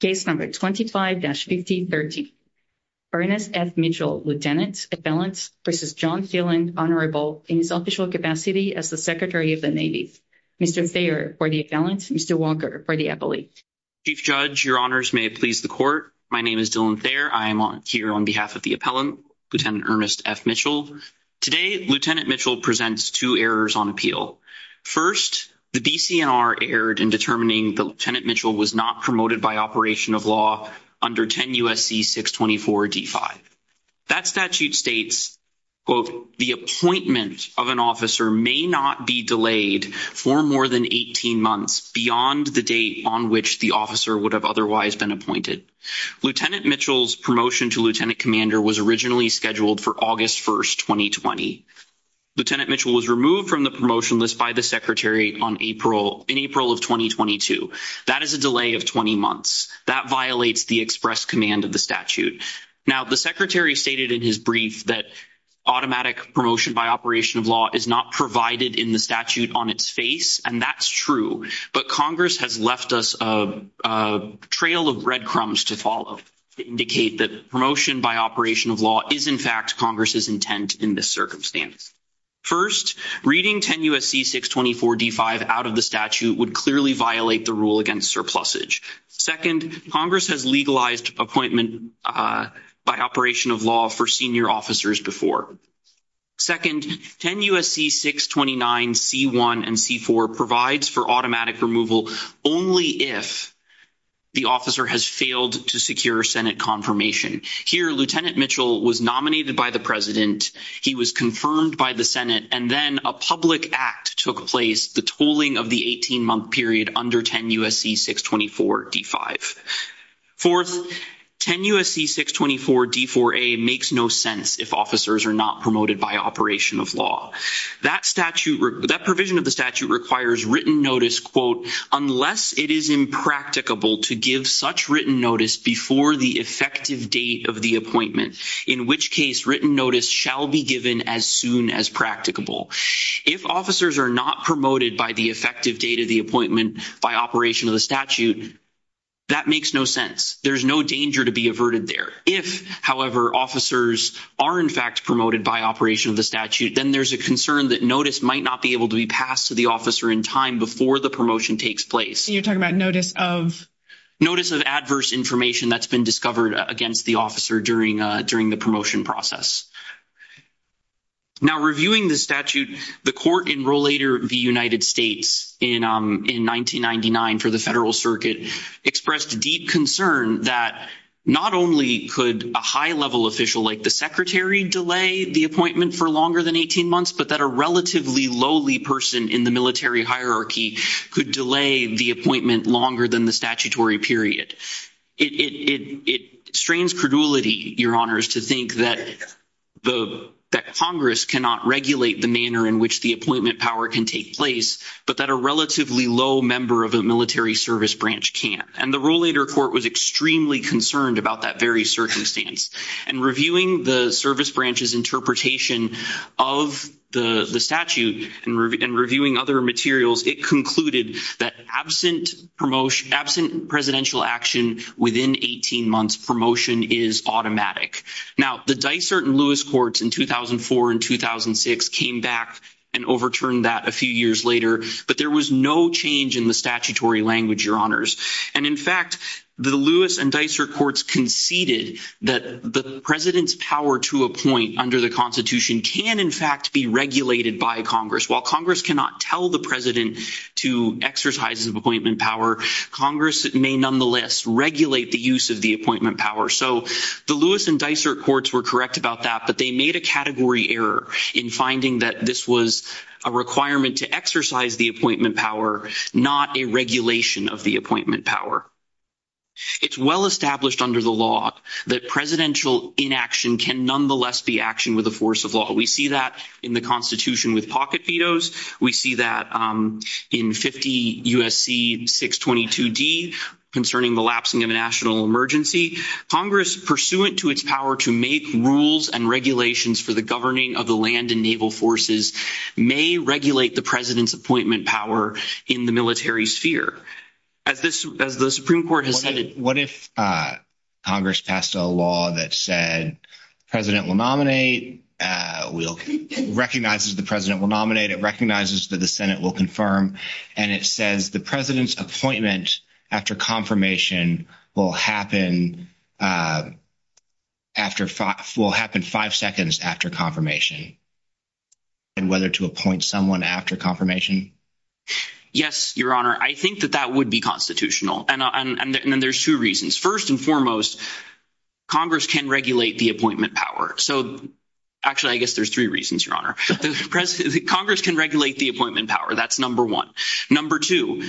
Case No. 25-5030, Ernest F. Mitchell, Lt. Appellant v. John Phelan, Honorable, in his official capacity as the Secretary of the Navy. Mr. Thayer for the Appellant, Mr. Walker for the Appellate. Chief Judge, Your Honors, may it please the Court, my name is Dylan Thayer. I am here on behalf of the Appellant, Lt. Ernest F. Mitchell. Today, Lt. Mitchell presents two errors on appeal. First, the DCNR erred in determining that Lt. Mitchell was not promoted by operation of law under 10 U.S.C. 624 D-5. That statute states, quote, the appointment of an officer may not be delayed for more than 18 months beyond the date on which the officer would have otherwise been appointed. Lt. Mitchell's promotion to Lieutenant Commander was originally scheduled for August 1, 2020. Lt. Mitchell was removed from the promotion list by the Secretary in April of 2022. That is a delay of 20 months. That violates the express command of the statute. Now, the Secretary stated in his brief that automatic promotion by operation of law is not provided in the statute on its face, and that's true. But Congress has left us a trail of red crumbs to follow to indicate that promotion by operation of law is, in fact, Congress's intent in this circumstance. First, reading 10 U.S.C. 624 D-5 out of the statute would clearly violate the rule against surplusage. Second, Congress has legalized appointment by operation of law for senior officers before. Second, 10 U.S.C. 629 C-1 and C-4 provides for automatic removal only if the officer has failed to secure Senate confirmation. Here, Lt. Mitchell was nominated by the President, he was confirmed by the Senate, and then a public act took place, the tolling of the 18-month period under 10 U.S.C. 624 D-5. Fourth, 10 U.S.C. 624 D-4A makes no sense if officers are not promoted by operation of law. That provision of the statute requires written notice, quote, unless it is impracticable to give such written notice before the effective date of the appointment, in which case written notice shall be given as soon as practicable. If officers are not promoted by the effective date of the appointment by operation of the statute, that makes no sense. There's no danger to be averted there. If, however, officers are in fact promoted by operation of the statute, then there's a concern that notice might not be able to be passed to the officer in time before the promotion takes place. You're talking about notice of? Notice of adverse information that's been discovered against the officer during the promotion process. Now, reviewing the statute, the court in Rollator v. United States in 1999 for the Federal Circuit expressed deep concern that not only could a high-level official like the secretary delay the appointment for longer than 18 months, but that a relatively lowly person in the military hierarchy could delay the appointment longer than the statutory period. It strains credulity, Your Honors, to think that Congress cannot regulate the manner in which the appointment power can take place, but that a relatively low member of a military service branch can't. And the Rollator court was extremely concerned about that very circumstance. And reviewing the service branch's interpretation of the statute and reviewing other materials, it concluded that absent presidential action within 18 months, promotion is automatic. Now, the Dysart and Lewis courts in 2004 and 2006 came back and overturned that a few years later, but there was no change in the statutory language, Your Honors. And in fact, the Lewis and Dysart courts conceded that the president's power to appoint under the Constitution can, in fact, be regulated by Congress. While Congress cannot tell the president to exercise his appointment power, Congress may nonetheless regulate the use of the appointment power. So the Lewis and Dysart courts were correct about that, but they made a category error in finding that this was a requirement to exercise the appointment power, not a regulation of the appointment power. It's well established under the law that presidential inaction can nonetheless be action with the force of law. We see that in the Constitution with pocket vetoes. We see that in 50 U.S.C. 622D concerning the lapsing of a national emergency. Congress, pursuant to its power to make rules and regulations for the governing of the land and naval forces, may regulate the president's appointment power in the military sphere. What if Congress passed a law that said the president will nominate, recognizes the president will nominate, it recognizes that the Senate will confirm, and it says the president's appointment after confirmation will happen five seconds after confirmation? And whether to appoint someone after confirmation? Yes, Your Honor, I think that that would be constitutional. And then there's two reasons. First and foremost, Congress can regulate the appointment power. So actually, I guess there's three reasons, Your Honor. Congress can regulate the appointment power. That's number one. Number two,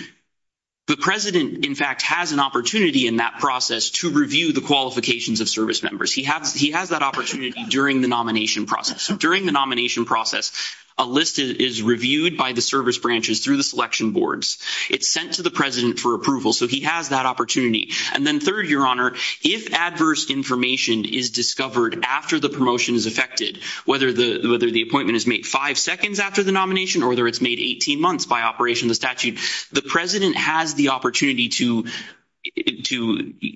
the president, in fact, has an opportunity in that process to review the qualifications of service members. He has that opportunity during the nomination process. During the nomination process, a list is reviewed by the service branches through the selection boards. It's sent to the president for approval. So he has that opportunity. And then third, Your Honor, if adverse information is discovered after the promotion is effected, whether the appointment is made five seconds after the nomination or whether it's made 18 months by operation of the statute, the president has the opportunity to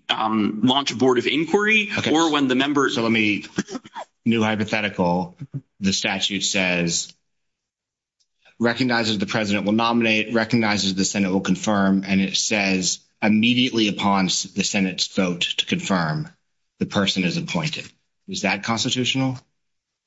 launch a board of inquiry. So let me – new hypothetical. The statute says recognizes the president will nominate, recognizes the Senate will confirm, and it says immediately upon the Senate's vote to confirm, the person is appointed. Is that constitutional?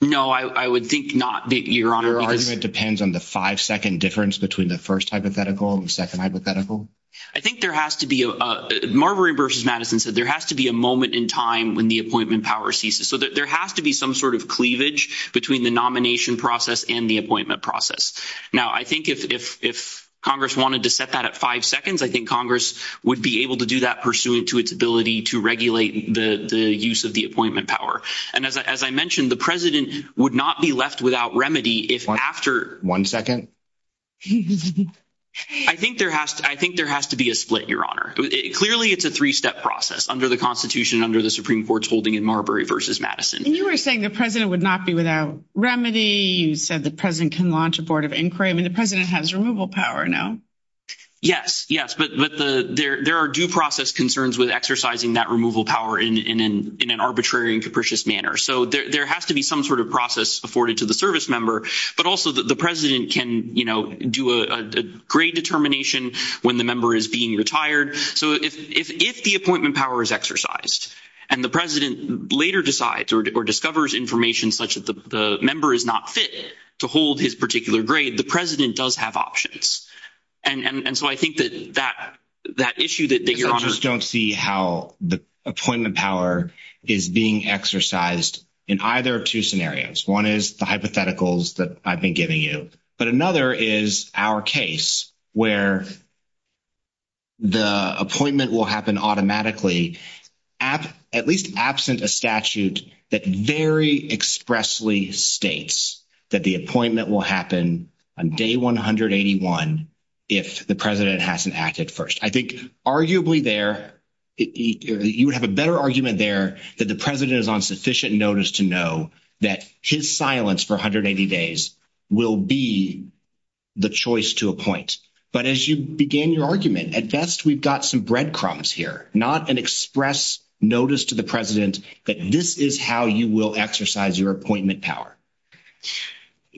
No, I would think not, Your Honor. Your argument depends on the five-second difference between the first hypothetical and the second hypothetical? I think there has to be a – Marbury v. Madison said there has to be a moment in time when the appointment power ceases. So there has to be some sort of cleavage between the nomination process and the appointment process. Now, I think if Congress wanted to set that at five seconds, I think Congress would be able to do that pursuant to its ability to regulate the use of the appointment power. And as I mentioned, the president would not be left without remedy if after – One second. I think there has to be a split, Your Honor. Clearly, it's a three-step process under the Constitution, under the Supreme Court's holding in Marbury v. Madison. You were saying the president would not be without remedy. You said the president can launch a board of inquiry. I mean, the president has removal power now. Yes, yes, but there are due process concerns with exercising that removal power in an arbitrary and capricious manner. So there has to be some sort of process afforded to the service member, but also the president can do a grade determination when the member is being retired. So if the appointment power is exercised and the president later decides or discovers information such that the member is not fit to hold his particular grade, the president does have options. And so I think that that issue that Your Honor – I just don't see how the appointment power is being exercised in either of two scenarios. One is the hypotheticals that I've been giving you, but another is our case where the appointment will happen automatically, at least absent a statute that very expressly states that the appointment will happen on day 181 if the president hasn't acted first. I think arguably there – you would have a better argument there that the president is on sufficient notice to know that his silence for 180 days will be the choice to appoint. But as you began your argument, at best we've got some breadcrumbs here, not an express notice to the president that this is how you will exercise your appointment power.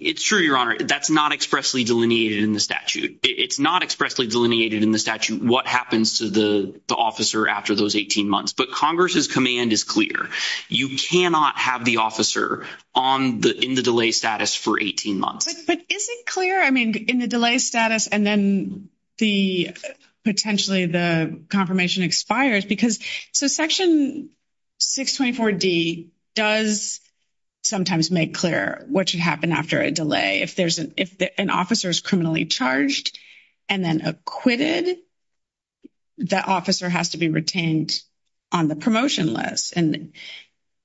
It's true, Your Honor. That's not expressly delineated in the statute. It's not expressly delineated in the statute what happens to the officer after those 18 months. But Congress's command is clear. You cannot have the officer in the delay status for 18 months. But is it clear, I mean, in the delay status and then potentially the confirmation expires? Because – so Section 624D does sometimes make clear what should happen after a delay. If an officer is criminally charged and then acquitted, that officer has to be retained on the promotion list. And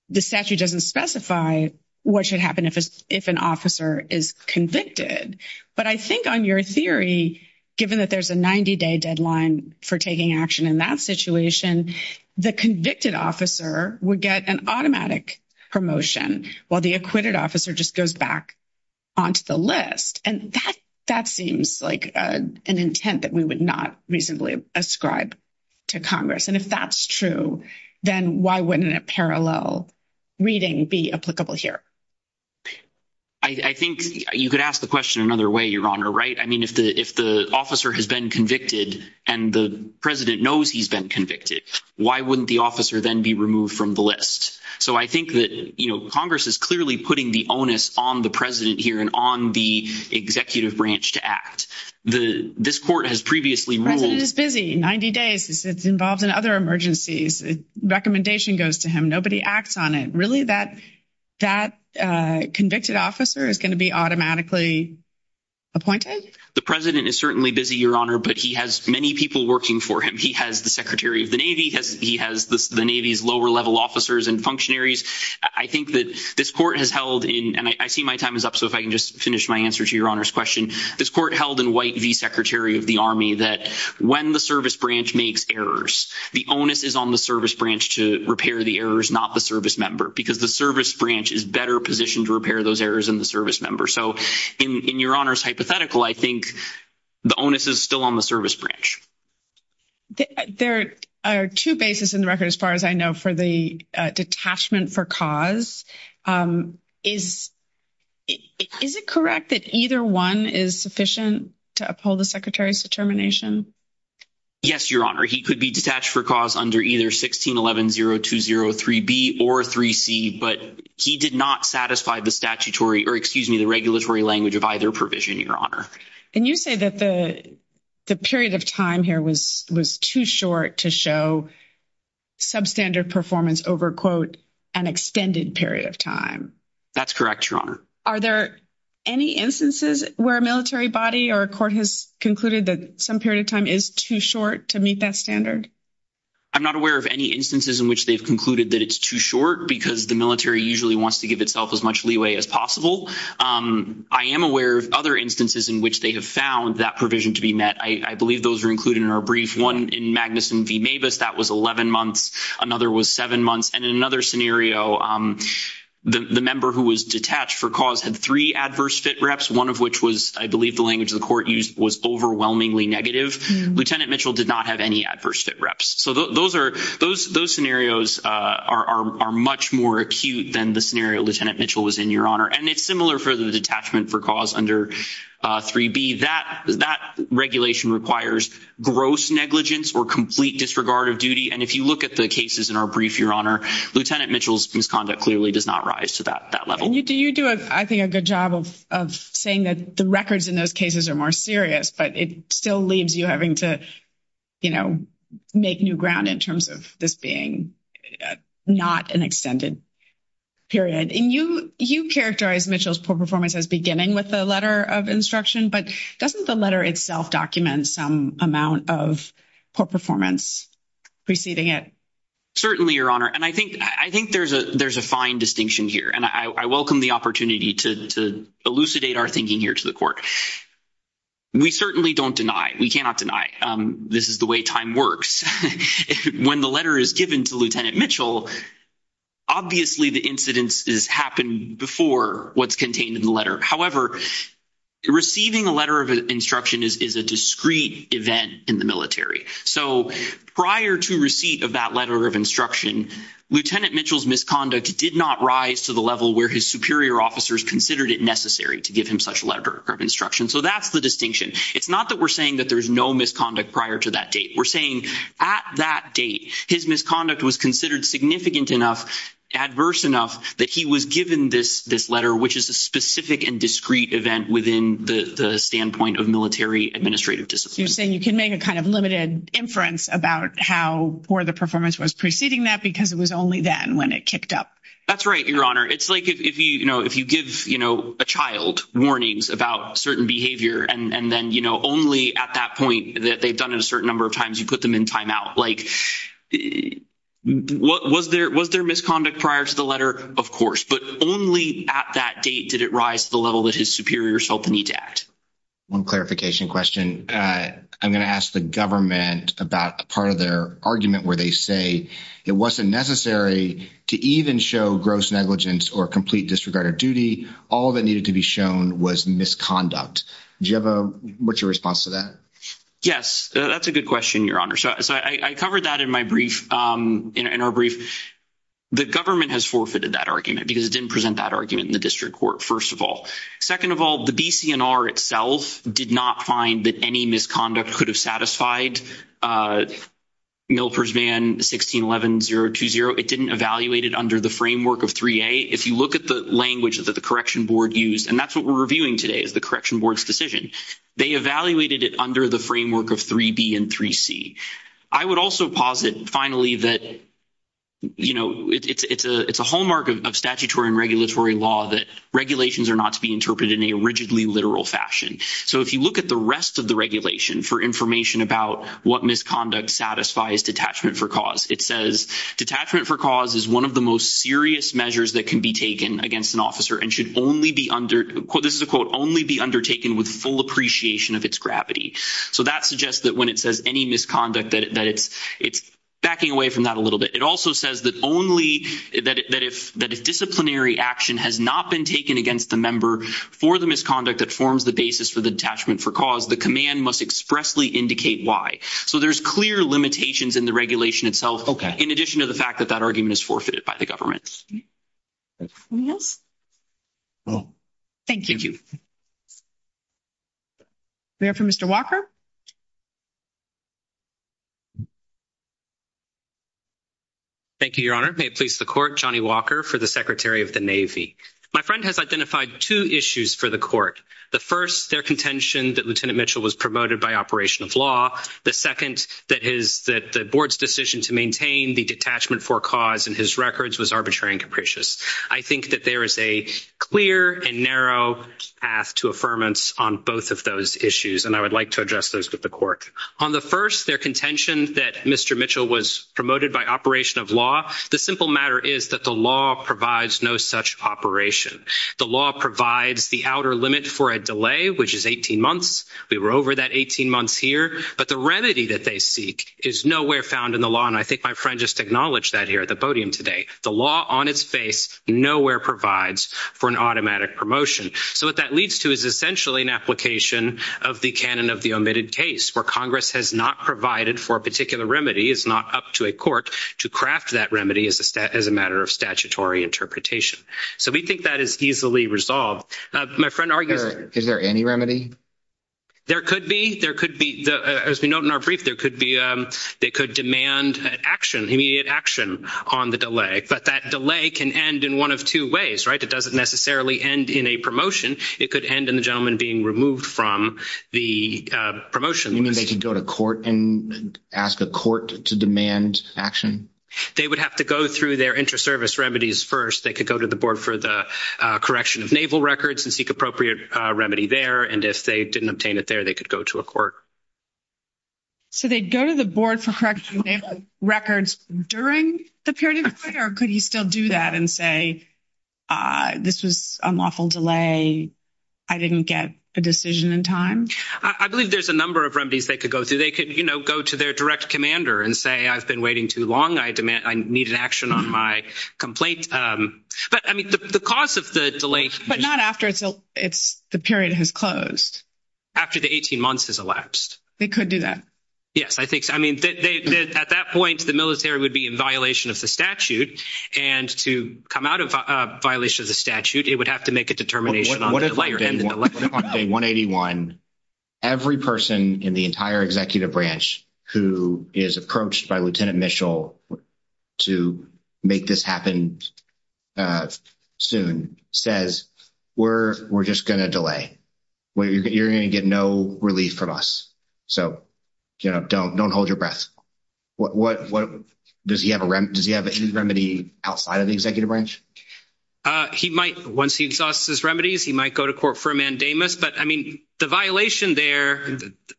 the statute doesn't specify what should happen if an officer is convicted. But I think on your theory, given that there's a 90-day deadline for taking action in that situation, the convicted officer would get an automatic promotion, while the acquitted officer just goes back onto the list. And that seems like an intent that we would not reasonably ascribe to Congress. And if that's true, then why wouldn't a parallel reading be applicable here? I think you could ask the question another way, Your Honor, right? I mean, if the officer has been convicted and the president knows he's been convicted, why wouldn't the officer then be removed from the list? So I think that Congress is clearly putting the onus on the president here and on the executive branch to act. This court has previously ruled— The president is busy. 90 days. It's involved in other emergencies. Recommendation goes to him. Nobody acts on it. Really, that convicted officer is going to be automatically appointed? The president is certainly busy, Your Honor, but he has many people working for him. He has the Secretary of the Navy. He has the Navy's lower-level officers and functionaries. I think that this court has held in—and I see my time is up, so if I can just finish my answer to Your Honor's question. This court held in White v. Secretary of the Army that when the service branch makes errors, the onus is on the service branch to repair the errors, not the service member, because the service branch is better positioned to repair those errors than the service member. So in Your Honor's hypothetical, I think the onus is still on the service branch. There are two bases in the record, as far as I know, for the detachment for cause. Is it correct that either one is sufficient to uphold the Secretary's determination? Yes, Your Honor. He could be detached for cause under either 16.11.0203B or 3C, but he did not satisfy the statutory—or excuse me, the regulatory language of either provision, Your Honor. And you say that the period of time here was too short to show substandard performance over, quote, an extended period of time. That's correct, Your Honor. Are there any instances where a military body or a court has concluded that some period of time is too short to meet that standard? I'm not aware of any instances in which they've concluded that it's too short because the military usually wants to give itself as much leeway as possible. I am aware of other instances in which they have found that provision to be met. I believe those are included in our brief. One in Magnuson v. Mavis, that was 11 months. Another was 7 months. And in another scenario, the member who was detached for cause had three adverse fit reps, one of which was—I believe the language the court used was overwhelmingly negative. Lieutenant Mitchell did not have any adverse fit reps. So those scenarios are much more acute than the scenario Lieutenant Mitchell was in, Your Honor. And it's similar for the detachment for cause under 3B. That regulation requires gross negligence or complete disregard of duty. And if you look at the cases in our brief, Your Honor, Lieutenant Mitchell's misconduct clearly does not rise to that level. And you do, I think, a good job of saying that the records in those cases are more serious, but it still leaves you having to, you know, make new ground in terms of this being not an extended period. And you characterize Mitchell's poor performance as beginning with the letter of instruction, but doesn't the letter itself document some amount of poor performance preceding it? Certainly, Your Honor. And I think there's a fine distinction here. And I welcome the opportunity to elucidate our thinking here to the court. We certainly don't deny, we cannot deny this is the way time works. When the letter is given to Lieutenant Mitchell, obviously the incidents happened before what's contained in the letter. However, receiving a letter of instruction is a discrete event in the military. So prior to receipt of that letter of instruction, Lieutenant Mitchell's misconduct did not rise to the level where his superior officers considered it necessary to give him such a letter of instruction. So that's the distinction. It's not that we're saying that there's no misconduct prior to that date. We're saying at that date, his misconduct was considered significant enough, adverse enough, that he was given this letter, which is a specific and discrete event within the standpoint of military administrative discipline. You're saying you can make a kind of limited inference about how poor the performance was preceding that because it was only then when it kicked up. That's right, Your Honor. It's like if you give a child warnings about certain behavior, and then only at that point that they've done it a certain number of times, you put them in timeout. Was there misconduct prior to the letter? Of course. But only at that date did it rise to the level that his superiors felt the need to act. One clarification question. I'm going to ask the government about a part of their argument where they say it wasn't necessary to even show gross negligence or complete disregard of duty. All that needed to be shown was misconduct. What's your response to that? Yes, that's a good question, Your Honor. So I covered that in our brief. The government has forfeited that argument because it didn't present that argument in the district court, first of all. Second of all, the BCNR itself did not find that any misconduct could have satisfied Milper's Van 1611-020. It didn't evaluate it under the framework of 3A. If you look at the language that the correction board used, and that's what we're reviewing today is the correction board's decision. They evaluated it under the framework of 3B and 3C. I would also posit finally that, you know, it's a hallmark of statutory and regulatory law that regulations are not to be interpreted in a rigidly literal fashion. So if you look at the rest of the regulation for information about what misconduct satisfies detachment for cause, it says detachment for cause is one of the most serious measures that can be taken against an officer and should only be under, this is a quote, only be undertaken with full appreciation of its gravity. So that suggests that when it says any misconduct that it's backing away from that a little bit. It also says that if disciplinary action has not been taken against the member for the misconduct that forms the basis for the detachment for cause, the command must expressly indicate why. So there's clear limitations in the regulation itself. Okay. In addition to the fact that that argument is forfeited by the government. Anything else? No. Thank you. Thank you. We have for Mr. Walker. Thank you, Your Honor. May it please the court. Johnny Walker for the Secretary of the Navy. My friend has identified two issues for the court. The first, their contention that Lieutenant Mitchell was promoted by operation of law. The second, that the board's decision to maintain the detachment for cause in his records was arbitrary and capricious. I think that there is a clear and narrow path to affirmance on both of those issues, and I would like to address those with the court. On the first, their contention that Mr. Mitchell was promoted by operation of law, the simple matter is that the law provides no such operation. The law provides the outer limit for a delay, which is 18 months. We were over that 18 months here, but the remedy that they seek is nowhere found in the law, and I think my friend just acknowledged that here at the podium today. The law on its face nowhere provides for an automatic promotion. So what that leads to is essentially an application of the canon of the omitted case, where Congress has not provided for a particular remedy, is not up to a court to craft that remedy as a matter of statutory interpretation. So we think that is easily resolved. Is there any remedy? There could be. There could be. As we note in our brief, there could be. They could demand action, immediate action on the delay, but that delay can end in one of two ways, right? It doesn't necessarily end in a promotion. It could end in the gentleman being removed from the promotion. You mean they could go to court and ask the court to demand action? They would have to go through their inter-service remedies first. They could go to the board for the correction of naval records and seek appropriate remedy there, and if they didn't obtain it there, they could go to a court. So they'd go to the board for correction of naval records during the period of the court, or could he still do that and say this was an unlawful delay, I didn't get a decision in time? I believe there's a number of remedies they could go through. They could, you know, go to their direct commander and say I've been waiting too long, I need an action on my complaint. But, I mean, the cause of the delay. But not after the period has closed. After the 18 months has elapsed. They could do that. Yes, I think so. I mean, at that point, the military would be in violation of the statute, and to come out of violation of the statute, it would have to make a determination on the delay. On day 181, every person in the entire executive branch who is approached by Lieutenant Mitchell to make this happen soon says we're just going to delay. You're going to get no relief from us. So, you know, don't hold your breath. Does he have a remedy outside of the executive branch? He might. Once he exhausts his remedies, he might go to court for a mandamus. But, I mean, the violation there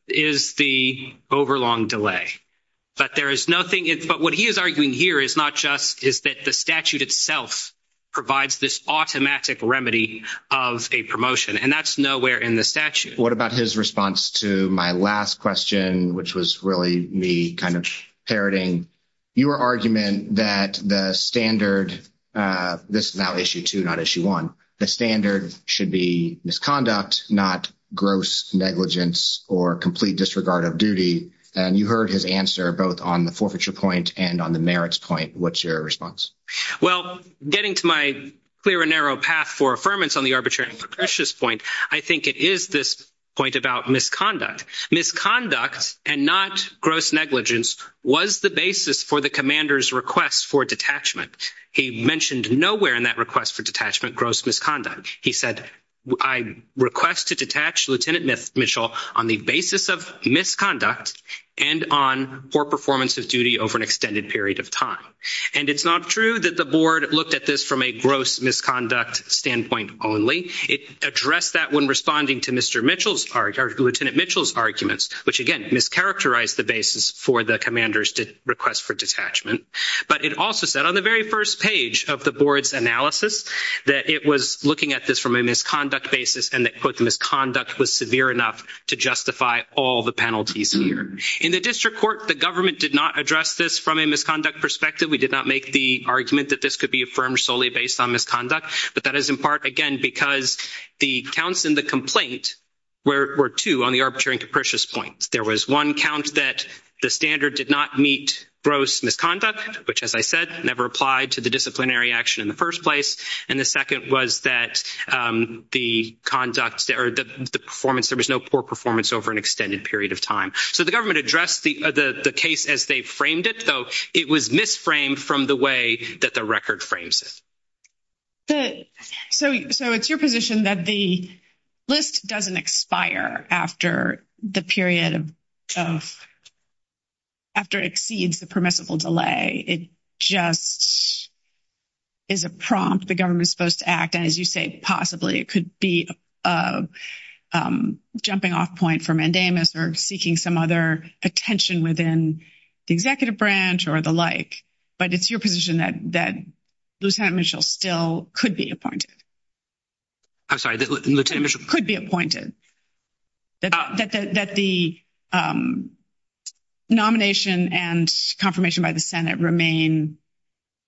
is the overlong delay. But there is nothing. But what he is arguing here is not just is that the statute itself provides this automatic remedy of a promotion, and that's nowhere in the statute. What about his response to my last question, which was really me kind of parroting your argument that the standard, this is now Issue 2, not Issue 1, the standard should be misconduct, not gross negligence or complete disregard of duty. And you heard his answer both on the forfeiture point and on the merits point. What's your response? Well, getting to my clear and narrow path for affirmance on the arbitrary and propitious point, I think it is this point about misconduct. Misconduct and not gross negligence was the basis for the commander's request for detachment. He mentioned nowhere in that request for detachment gross misconduct. He said, I request to detach Lieutenant Mitchell on the basis of misconduct and on poor performance of duty over an extended period of time. And it's not true that the board looked at this from a gross misconduct standpoint only. It addressed that when responding to Lieutenant Mitchell's arguments, which, again, mischaracterized the basis for the commander's request for detachment. But it also said on the very first page of the board's analysis that it was looking at this from a misconduct basis and that, quote, the misconduct was severe enough to justify all the penalties here. In the district court, the government did not address this from a misconduct perspective. We did not make the argument that this could be affirmed solely based on misconduct. But that is in part, again, because the counts in the complaint were two on the arbitrary and capricious points. There was one count that the standard did not meet gross misconduct, which, as I said, never applied to the disciplinary action in the first place. And the second was that the conduct or the performance, there was no poor performance over an extended period of time. So the government addressed the case as they framed it, so it was misframed from the way that the record frames it. So it's your position that the list doesn't expire after the period of – after it exceeds the permissible delay. It just is a prompt the government is supposed to act. And as you say, possibly it could be a jumping off point for mandamus or seeking some other attention within the executive branch or the like. But it's your position that Lieutenant Mitchell still could be appointed. I'm sorry, Lieutenant Mitchell? Could be appointed, that the nomination and confirmation by the Senate remain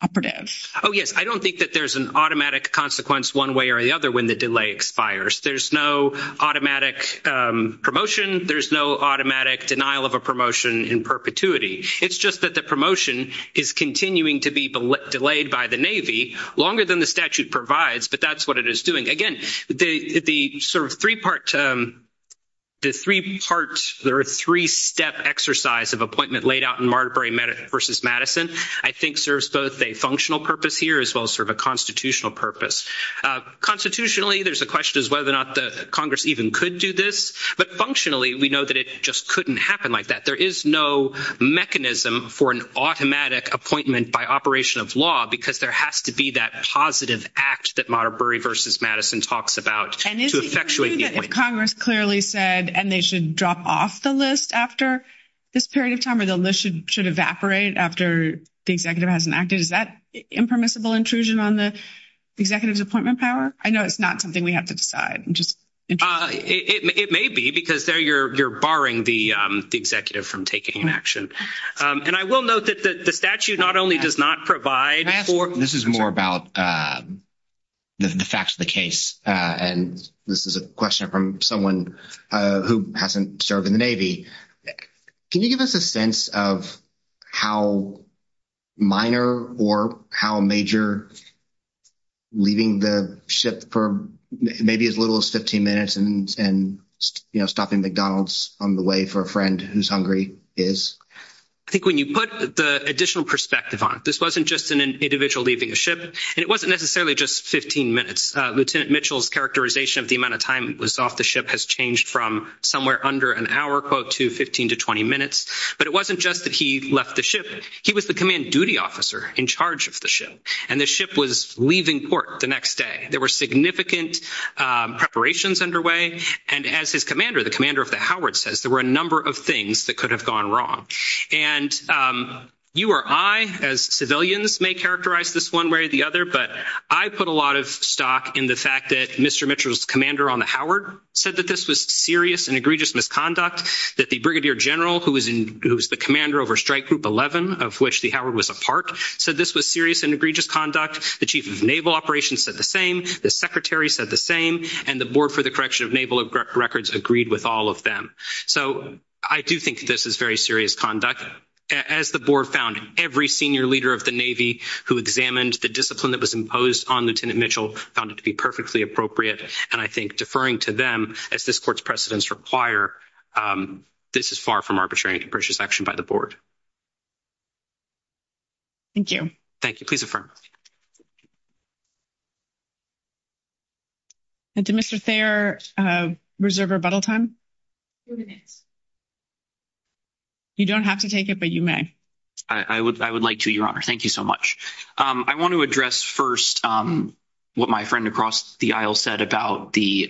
operative. Oh, yes. I don't think that there's an automatic consequence one way or the other when the delay expires. There's no automatic promotion. There's no automatic denial of a promotion in perpetuity. It's just that the promotion is continuing to be delayed by the Navy longer than the statute provides, but that's what it is doing. Again, the sort of three-part – the three-step exercise of appointment laid out in Marbury v. Madison I think serves both a functional purpose here as well as sort of a constitutional purpose. Constitutionally, there's a question as whether or not Congress even could do this. But functionally, we know that it just couldn't happen like that. There is no mechanism for an automatic appointment by operation of law because there has to be that positive act that Marbury v. Madison talks about to effectuate the appointment. Congress clearly said, and they should drop off the list after this period of time or the list should evaporate after the executive has enacted. Is that impermissible intrusion on the executive's appointment power? I know it's not something we have to decide. It may be because there you're barring the executive from taking an action. And I will note that the statute not only does not provide for – This is more about the facts of the case, and this is a question from someone who hasn't served in the Navy. Can you give us a sense of how minor or how major leaving the ship for maybe as little as 15 minutes and stopping McDonald's on the way for a friend who's hungry is? I think when you put the additional perspective on it, this wasn't just an individual leaving a ship, and it wasn't necessarily just 15 minutes. Lieutenant Mitchell's characterization of the amount of time he was off the ship has changed from somewhere under an hour, quote, to 15 to 20 minutes. But it wasn't just that he left the ship. He was the command duty officer in charge of the ship, and the ship was leaving port the next day. There were significant preparations underway. And as his commander, the commander of the Howard says, there were a number of things that could have gone wrong. And you or I as civilians may characterize this one way or the other, but I put a lot of stock in the fact that Mr. Mitchell's commander on the Howard said that this was serious and egregious misconduct, that the brigadier general, who was the commander over strike group 11, of which the Howard was a part, said this was serious and egregious conduct. The chief of naval operations said the same. The secretary said the same. And the board for the correction of naval records agreed with all of them. So I do think this is very serious conduct. As the board found, every senior leader of the Navy who examined the discipline that was imposed on Lieutenant Mitchell found it to be perfectly appropriate. And I think deferring to them, as this court's precedents require, this is far from arbitrary and capricious action by the board. Thank you. Thank you. Please affirm. Did Mr. Thayer reserve rebuttal time? You don't have to take it, but you may. I would like to, Your Honor. Thank you so much. I want to address first what my friend across the aisle said about the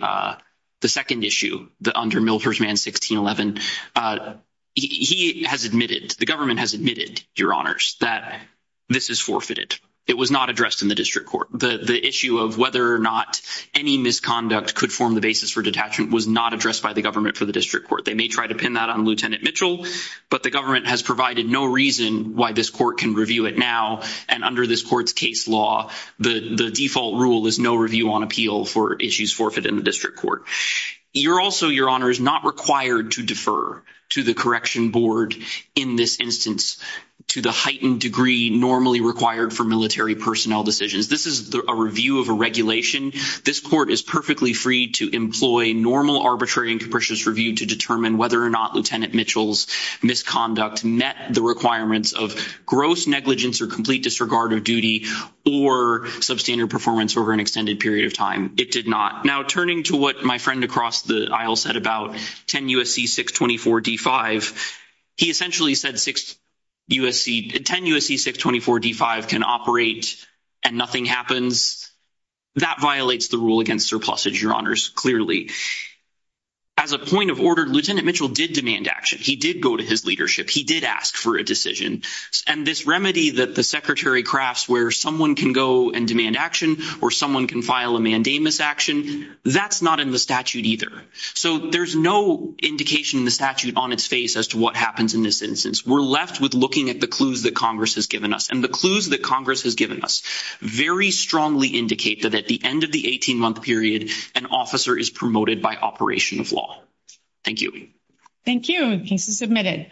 second issue, under Milford's Man 1611. He has admitted, the government has admitted, Your Honors, that this is forfeited. It was not addressed in the district court. The issue of whether or not any misconduct could form the basis for detachment was not addressed by the government for the district court. They may try to pin that on Lieutenant Mitchell, but the government has provided no reason why this court can review it now. And under this court's case law, the default rule is no review on appeal for issues forfeited in the district court. Also, Your Honor, it is not required to defer to the correction board in this instance to the heightened degree normally required for military personnel decisions. This is a review of a regulation. This court is perfectly free to employ normal arbitrary and capricious review to determine whether or not Lieutenant Mitchell's misconduct met the requirements of gross negligence or complete disregard of duty or substandard performance over an extended period of time. It did not. Now, turning to what my friend across the aisle said about 10 U.S.C. 624-D5, he essentially said 10 U.S.C. 624-D5 can operate and nothing happens. That violates the rule against surplusage, Your Honors, clearly. As a point of order, Lieutenant Mitchell did demand action. He did go to his leadership. He did ask for a decision. And this remedy that the secretary crafts where someone can go and demand action or someone can file a mandamus action, that's not in the statute either. So there's no indication in the statute on its face as to what happens in this instance. We're left with looking at the clues that Congress has given us, and the clues that Congress has given us very strongly indicate that at the end of the 18-month period, an officer is promoted by operation of law. Thank you. Thank you. The case is submitted.